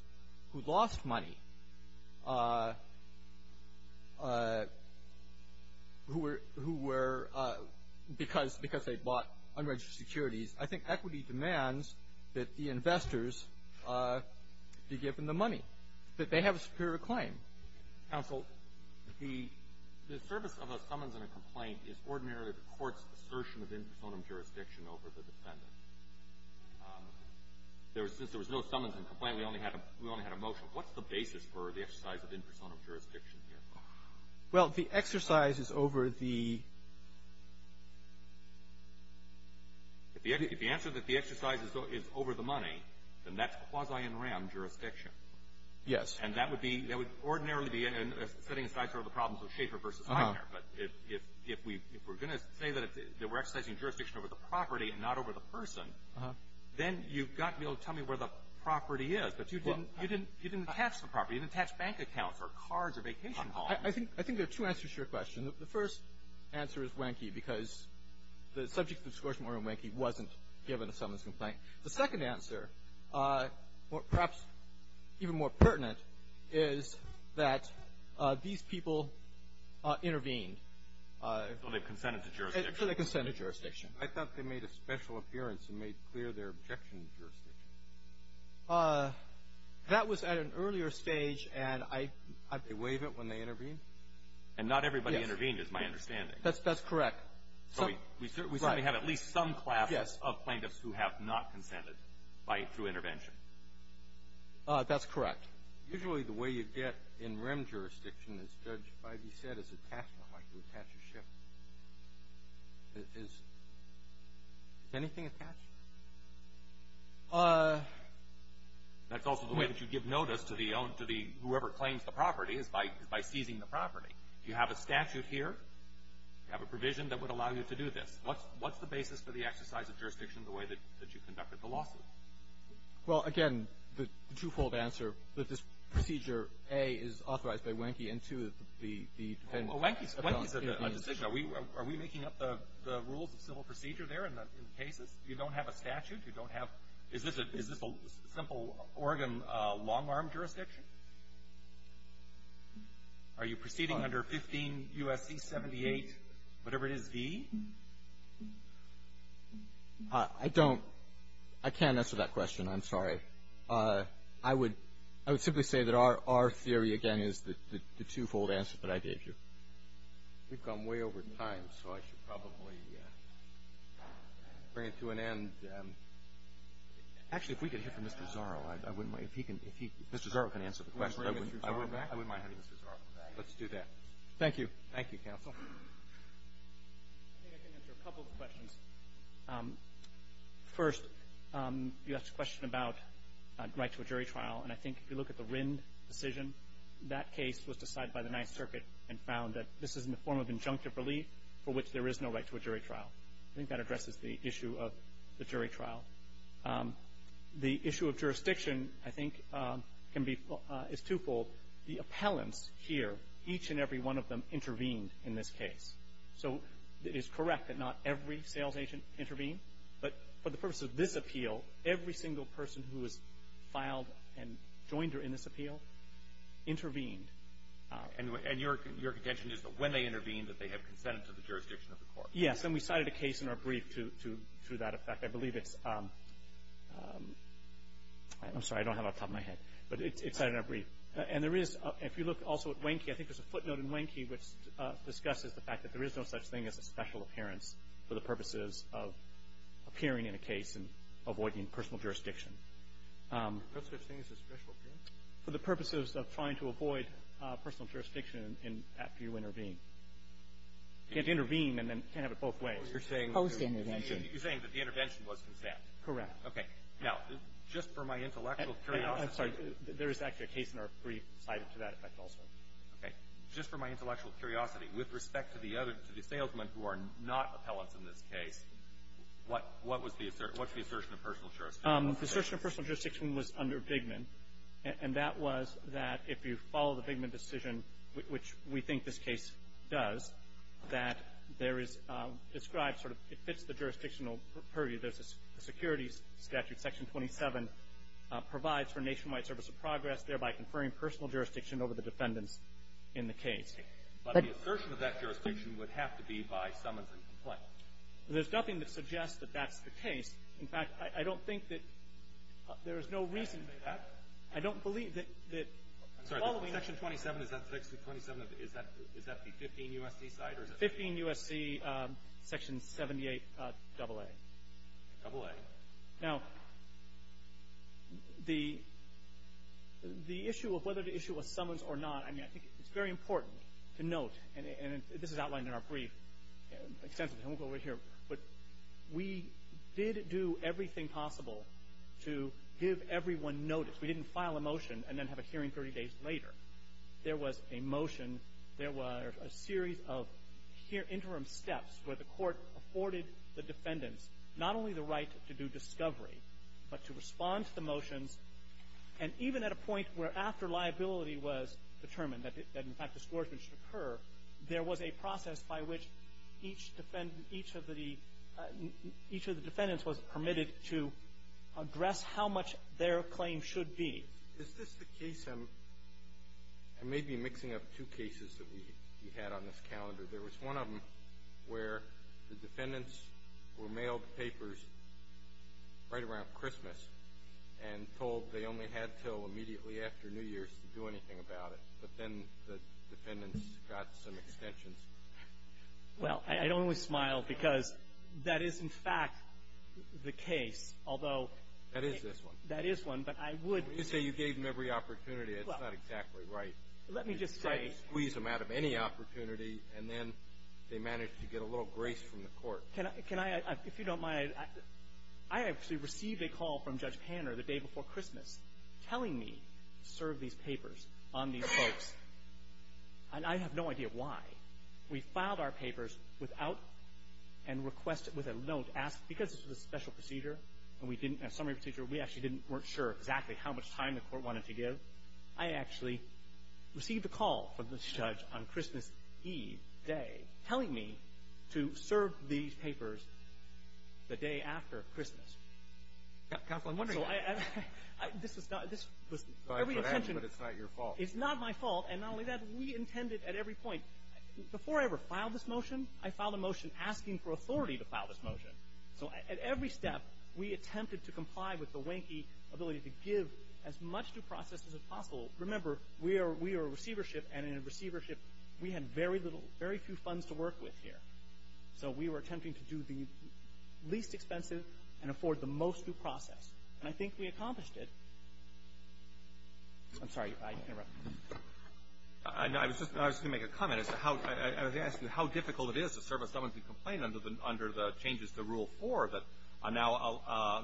who lost money, who were – because they bought unregistered securities. I think equity demands that the investors be given the money, that they have a superior claim. Counsel, the service of a summons and a complaint is ordinarily the court's assertion of in personam jurisdiction over the defendant. Since there was no summons and complaint, we only had a – we only had a motion. What's the basis for the exercise of in personam jurisdiction here? Well, the exercise is over the – If the answer is that the exercise is over the money, then that's quasi in ram jurisdiction. Yes. And that would be – that would ordinarily be setting aside sort of the problems of Schaefer versus McNair. But if we're going to say that we're exercising jurisdiction over the property and not over the person, then you've got to be able to tell me where the property is. But you didn't – you didn't attach the property. You didn't attach bank accounts or cards or vacation bonds. I think there are two answers to your question. The first answer is Wenke because the subject of the discretion order in Wenke wasn't given a summons and complaint. The second answer, perhaps even more pertinent, is that these people intervened. So they've consented to jurisdiction. So they've consented to jurisdiction. I thought they made a special appearance and made clear their objection to jurisdiction. That was at an earlier stage, and I bewaive it when they intervened. And not everybody intervened is my understanding. That's correct. Right. So we certainly have at least some classes of plaintiffs who have not consented by – through intervention. That's correct. Usually the way you get in REM jurisdiction, as Judge Feige said, is attachment. Like you attach a ship. Is anything attached? That's also the way that you give notice to the – to the – whoever claims the property is by seizing the property. You have a statute here. You have a provision that would allow you to do this. What's the basis for the exercise of jurisdiction the way that you conducted the lawsuit? Well, again, the two-fold answer, that this procedure, A, is authorized by Wenke, and, two, the defendant – Well, Wenke's a decision. Are we making up the rules of civil procedure there in the cases? You don't have a statute? You don't have – is this a simple Oregon long-arm jurisdiction? Are you proceeding under 15 U.S.C. 78, whatever it is, V? I don't – I can't answer that question. I'm sorry. I would – I would simply say that our theory, again, is the two-fold answer that I gave you. We've gone way over time, so I should probably bring it to an end. Actually, if we could hear from Mr. Zorro, I wouldn't mind. If he can – if he – Mr. Zorro can answer the question. I wouldn't mind having Mr. Zorro back. Let's do that. Thank you. Thank you, counsel. I think I can answer a couple of questions. First, you asked a question about right to a jury trial, and I think if you look at the Wrynn decision, that case was decided by the Ninth Circuit and found that this is in the form of injunctive relief for which there is no right to a jury trial. I think that addresses the issue of the jury trial. The issue of jurisdiction, I think, can be – is two-fold. The appellants here, each and every one of them intervened in this case. So it is correct that not every sales agent intervened, but for the purpose of this appeal, every single person who has filed and joined in this appeal intervened. And your contention is that when they intervened, that they have consented to the jurisdiction of the court. Yes, and we cited a case in our brief to that effect. I believe it's – I'm sorry, I don't have it off the top of my head, but it's cited in our brief. And there is – if you look also at Wanky, I think there's a footnote in Wanky which discusses the fact that there is no such thing as a special appearance for the purposes of appearing in a case and avoiding personal jurisdiction. No such thing as a special appearance? For the purposes of trying to avoid personal jurisdiction after you intervene. Can't intervene and then can't have it both ways. You're saying that the intervention was consent? Correct. Okay. Now, just for my intellectual curiosity – I'm sorry. There is actually a case in our brief cited to that effect also. Okay. Just for my intellectual curiosity, with respect to the other – to the salesmen who are not appellants in this case, what – what was the – what's the assertion of personal jurisdiction? The assertion of personal jurisdiction was under Bigman, and that was that if you follow the Bigman decision, which we think this case does, that there is described sort of – it fits the jurisdictional purview. There's a securities statute, Section 27, provides for nationwide service of progress, thereby conferring personal jurisdiction over the defendants in the case. But the assertion of that jurisdiction would have to be by summons and complaint. There's nothing that suggests that that's the case. In fact, I don't think that there is no reason – I don't believe that – that following Section 27, is that – Section 27, is that – is that the 15 U.S.C. side, or is that – 15 U.S.C., Section 78, AA. AA. Now, the – the issue of whether the issue was summons or not, I mean, I think it's very important to note, and this is outlined in our brief extensively, and we'll go over here, but we did do everything possible to give everyone notice. We didn't file a motion and then have a hearing 30 days later. There was a motion. There were a series of interim steps where the Court afforded the defendants not only the right to do discovery, but to respond to the motions. And even at a point where, after liability was determined, that in fact distortion should occur, there was a process by which each defendant – each of the – each of the defendants was permitted to address how much their claim should be. Is this the case – I may be mixing up two cases that we had on this calendar. There was one of them where the defendants were mailed papers right around Christmas and told they only had until immediately after New Year's to do anything about it, but then the defendants got some extensions. Well, I don't always smile because that is, in fact, the case. Although – That is this one. That is one, but I would – You say you gave them every opportunity. It's not exactly right. Let me just say – You squeeze them out of any opportunity, and then they managed to get a little grace from the Court. Can I – if you don't mind, I actually received a call from Judge Panner the day before Christmas telling me to serve these papers on these folks, and I have no idea why. We filed our papers without – and requested with a note, asked – because this was a special procedure and we didn't – a summary procedure, we actually didn't – weren't sure exactly how much time the Court wanted to give. I actually received a call from this judge on Christmas Eve day telling me to serve these papers the day after Christmas. Counsel, I'm wondering – Counsel, I – this was not – this was – Sorry for that, but it's not your fault. It's not my fault, and not only that, we intended at every point – before I ever filed this motion, I filed a motion asking for authority to file this motion. So at every step, we attempted to comply with the wanky ability to give as much due process as possible. Remember, we are a receivership, and in a receivership, we had very little – very few funds to work with here. So we were attempting to do the least expensive and afford the most due process. And I think we accomplished it. I'm sorry, I interrupted. I was just – I was going to make a comment. I was asking how difficult it is to serve a summons and complaint under the changes to Rule 4 that now,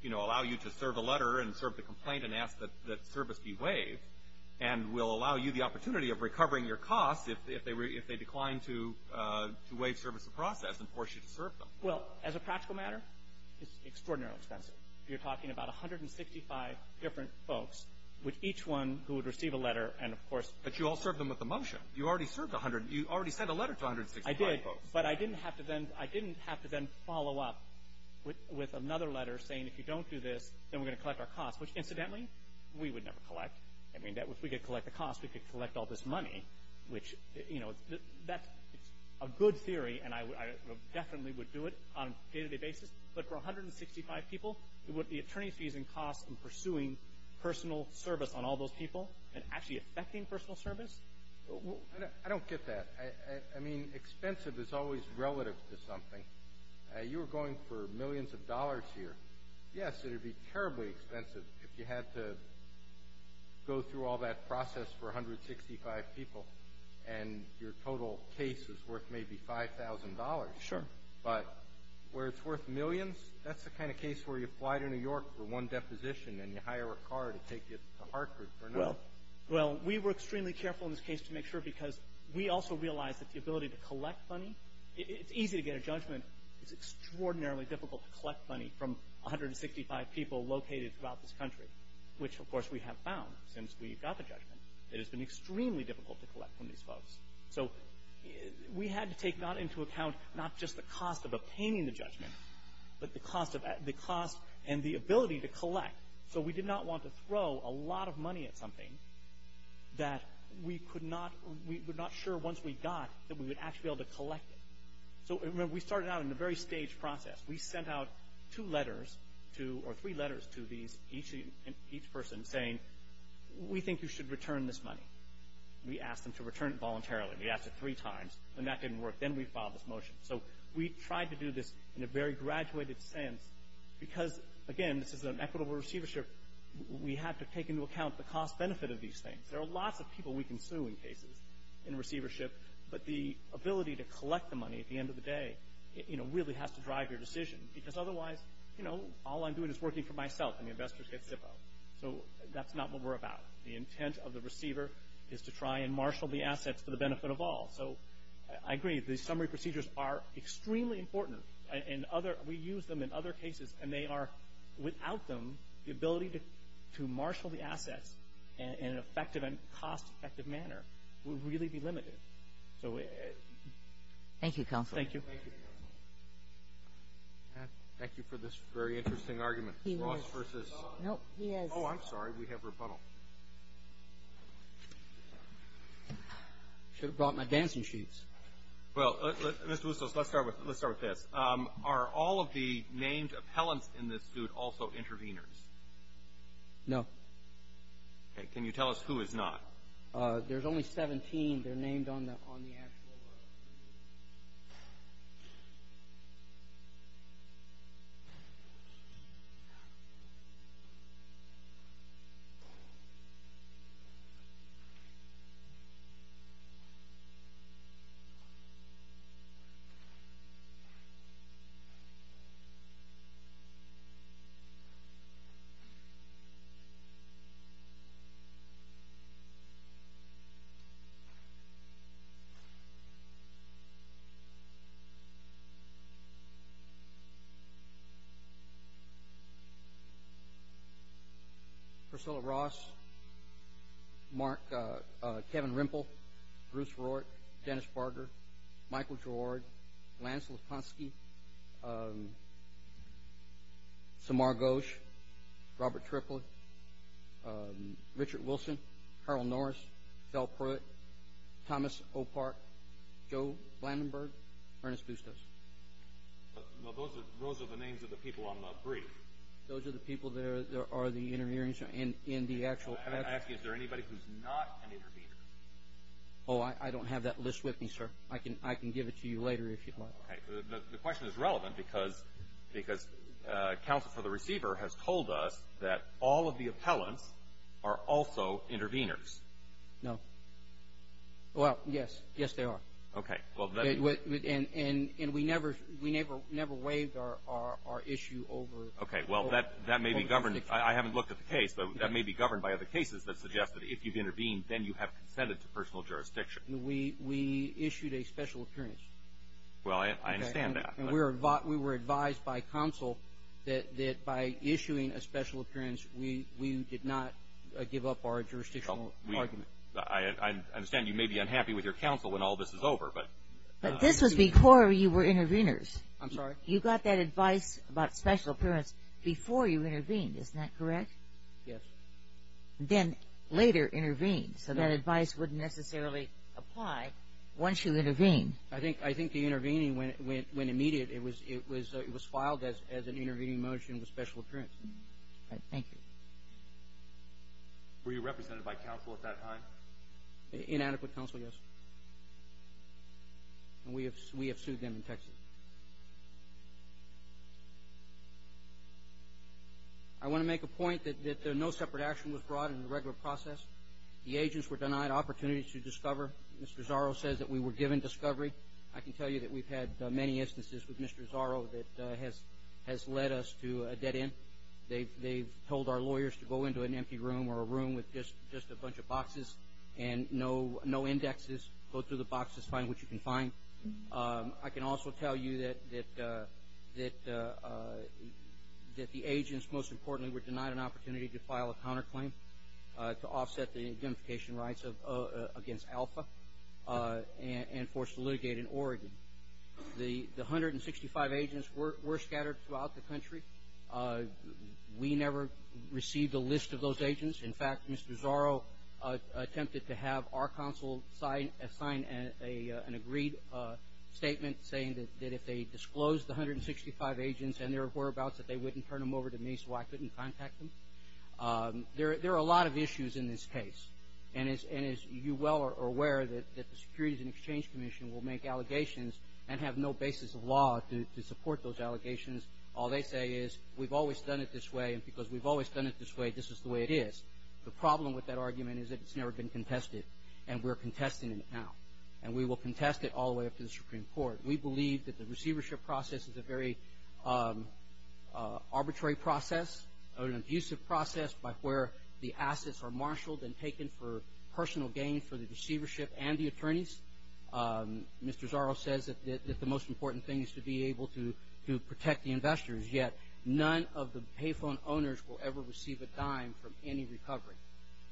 you know, allow you to serve a letter and serve the complaint and ask that service be waived, and will allow you the opportunity of recovering your costs if they decline to waive service of process and force you to serve them. Well, as a practical matter, it's extraordinarily expensive. You're talking about 165 different folks, with each one who would receive a letter and, of course – But you all served them with the motion. You already served 100 – you already sent a letter to 165 folks. I did, but I didn't have to then – I didn't have to then follow up with another letter saying, if you don't do this, then we're going to collect our costs, which, incidentally, we would never collect. I mean, if we could collect the costs, we could collect all this money, which, you know, that's a good theory, and I definitely would do it on a day-to-day basis. But for 165 people, would the attorneys be using costs in pursuing personal service on all those people and actually affecting personal service? I don't get that. I mean, expensive is always relative to something. You were going for millions of dollars here. Yes, it would be terribly expensive if you had to go through all that process for 165 people, and your total case is worth maybe $5,000. Sure. But where it's worth millions, that's the kind of case where you fly to New York for one deposition and you hire a car to take you to Hartford for another. Well, we were extremely careful in this case to make sure, because we also realized that the ability to collect money – it's easy to get a judgment. It's extraordinarily difficult to collect money from 165 people located throughout this country, which, of course, we have found since we got the judgment. It has been extremely difficult to collect from these folks. So we had to take not into account not just the cost of obtaining the judgment, but the cost and the ability to collect. So we did not want to throw a lot of money at something that we could not – we were not sure once we got that we would actually be able to collect it. So remember, we started out in a very staged process. We sent out two letters to – or three letters to these, each person saying, we think you should return this money. We asked them to return it voluntarily. We asked it three times, and that didn't work. Then we filed this motion. So we tried to do this in a very graduated sense because, again, this is an equitable receivership. We had to take into account the cost benefit of these things. There are lots of people we can sue in cases in receivership, but the ability to collect the money at the end of the day really has to drive your decision because otherwise, you know, all I'm doing is working for myself, and the investors get Zippo. So that's not what we're about. The intent of the receiver is to try and marshal the assets to the benefit of all. So I agree. These summary procedures are extremely important, and we use them in other cases, and they are – without them, the ability to marshal the assets in an effective and cost-effective manner would really be limited. Thank you, Counsel. Thank you. Thank you for this very interesting argument. He was. Ross versus. No, he is. Oh, I'm sorry. We have rebuttal. Should have brought my dancing shoes. Well, Mr. Wustos, let's start with this. Are all of the named appellants in this suit also intervenors? No. Okay. Can you tell us who is not? There's only 17. They're named on the actual. Thank you. Priscilla Ross. Mark. Kevin Rimple. Bruce Roark. Dennis Barger. Michael Gerard. Lance Lutkoski. Samar Ghosh. Robert Triplett. Richard Wilson. Carl Norris. Phil Pruitt. Thomas O'Park. Joe Blandenburg. Ernest Wustos. Well, those are the names of the people on the brief. Those are the people that are the intervenors in the actual. I have to ask you, is there anybody who's not an intervenor? Oh, I don't have that list with me, sir. I can give it to you later if you'd like. Okay. The question is relevant because counsel for the receiver has told us that all of the appellants are also intervenors. No. Well, yes. Yes, they are. Okay. And we never waived our issue over jurisdiction. Okay. Well, that may be governed. I haven't looked at the case, but that may be governed by other cases that suggest that if you've intervened, then you have consented to personal jurisdiction. We issued a special appearance. Well, I understand that. And we were advised by counsel that by issuing a special appearance, we did not give up our jurisdictional argument. I understand you may be unhappy with your counsel when all this is over, but... But this was before you were intervenors. I'm sorry? You got that advice about special appearance before you intervened. Isn't that correct? Yes. Then later intervened. So that advice wouldn't necessarily apply once you intervene. I think the intervening, when immediate, it was filed as an intervening motion with special appearance. Thank you. Were you represented by counsel at that time? Inadequate counsel, yes. And we have sued them in Texas. I want to make a point that no separate action was brought in the regular process. The agents were denied opportunity to discover. Mr. Zarro says that we were given discovery. I can tell you that we've had many instances with Mr. Zarro that has led us to a dead end. They've told our lawyers to go into an empty room or a room with just a bunch of boxes and no indexes. Go through the boxes, find what you can find. I can also tell you that the agents, most importantly, were denied an opportunity to file a counterclaim to offset the identification rights against Alpha and forced to litigate in Oregon. The 165 agents were scattered throughout the country. We never received a list of those agents. In fact, Mr. Zarro attempted to have our counsel sign an agreed statement saying that if they disclosed the 165 agents and their whereabouts that they wouldn't turn them over to me so I couldn't contact them. There are a lot of issues in this case. And as you well are aware that the Securities and Exchange Commission will make allegations and have no basis of law to support those allegations. All they say is we've always done it this way and because we've always done it this way, this is the way it is. The problem with that argument is that it's never been contested and we're contesting it now. And we will contest it all the way up to the Supreme Court. We believe that the receivership process is a very arbitrary process or an abusive process by where the assets are marshaled and taken for personal gain for the receivership and the attorneys. Mr. Zarro says that the most important thing is to be able to protect the investors, yet none of the payphone owners will ever receive a dime from any recovery.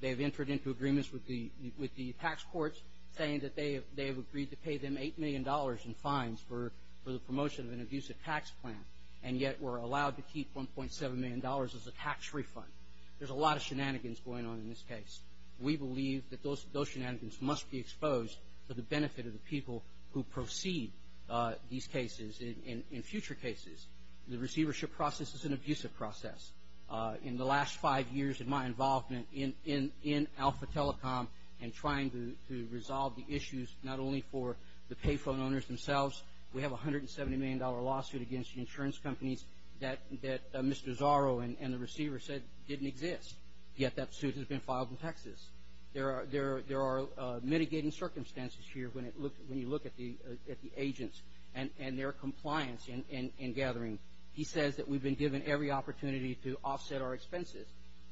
They have entered into agreements with the tax courts saying that they have agreed to pay them $8 million in fines for the promotion of an abusive tax plan and yet were allowed to keep $1.7 million as a tax refund. There's a lot of shenanigans going on in this case. We believe that those shenanigans must be exposed for the benefit of the people who proceed these cases. In future cases, the receivership process is an abusive process. In the last five years of my involvement in Alpha Telecom and trying to resolve the issues not only for the payphone owners themselves, we have a $170 million lawsuit against the insurance companies that Mr. Zarro and the receivers said didn't exist, yet that suit has been filed in Texas. There are mitigating circumstances here when you look at the agents and their compliance in gathering. He says that we've been given every opportunity to offset our expenses.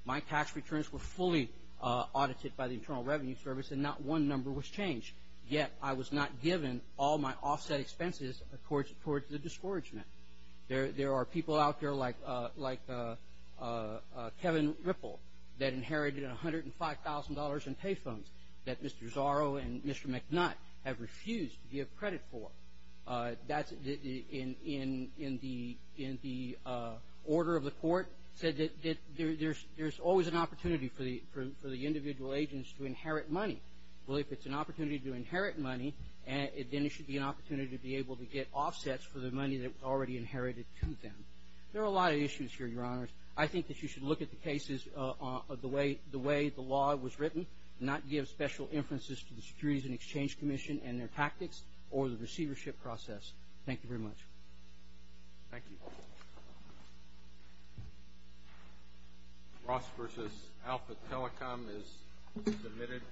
My tax returns were fully audited by the Internal Revenue Service and not one number was changed, yet I was not given all my offset expenses towards the discouragement. There are people out there like Kevin Ripple that inherited $105,000 in payphones that Mr. Zarro and Mr. McNutt have refused to give credit for. That's in the order of the court said that there's always an opportunity for the individual agents to inherit money. Well, if it's an opportunity to inherit money, then it should be an opportunity to be able to get offsets for the money that was already inherited to them. There are a lot of issues here, Your Honors. I think that you should look at the cases the way the law was written, not give special inferences to the Securities and Exchange Commission and their tactics or the receivership process. Thank you very much. Thank you. Ross versus Alpha Telecom is submitted.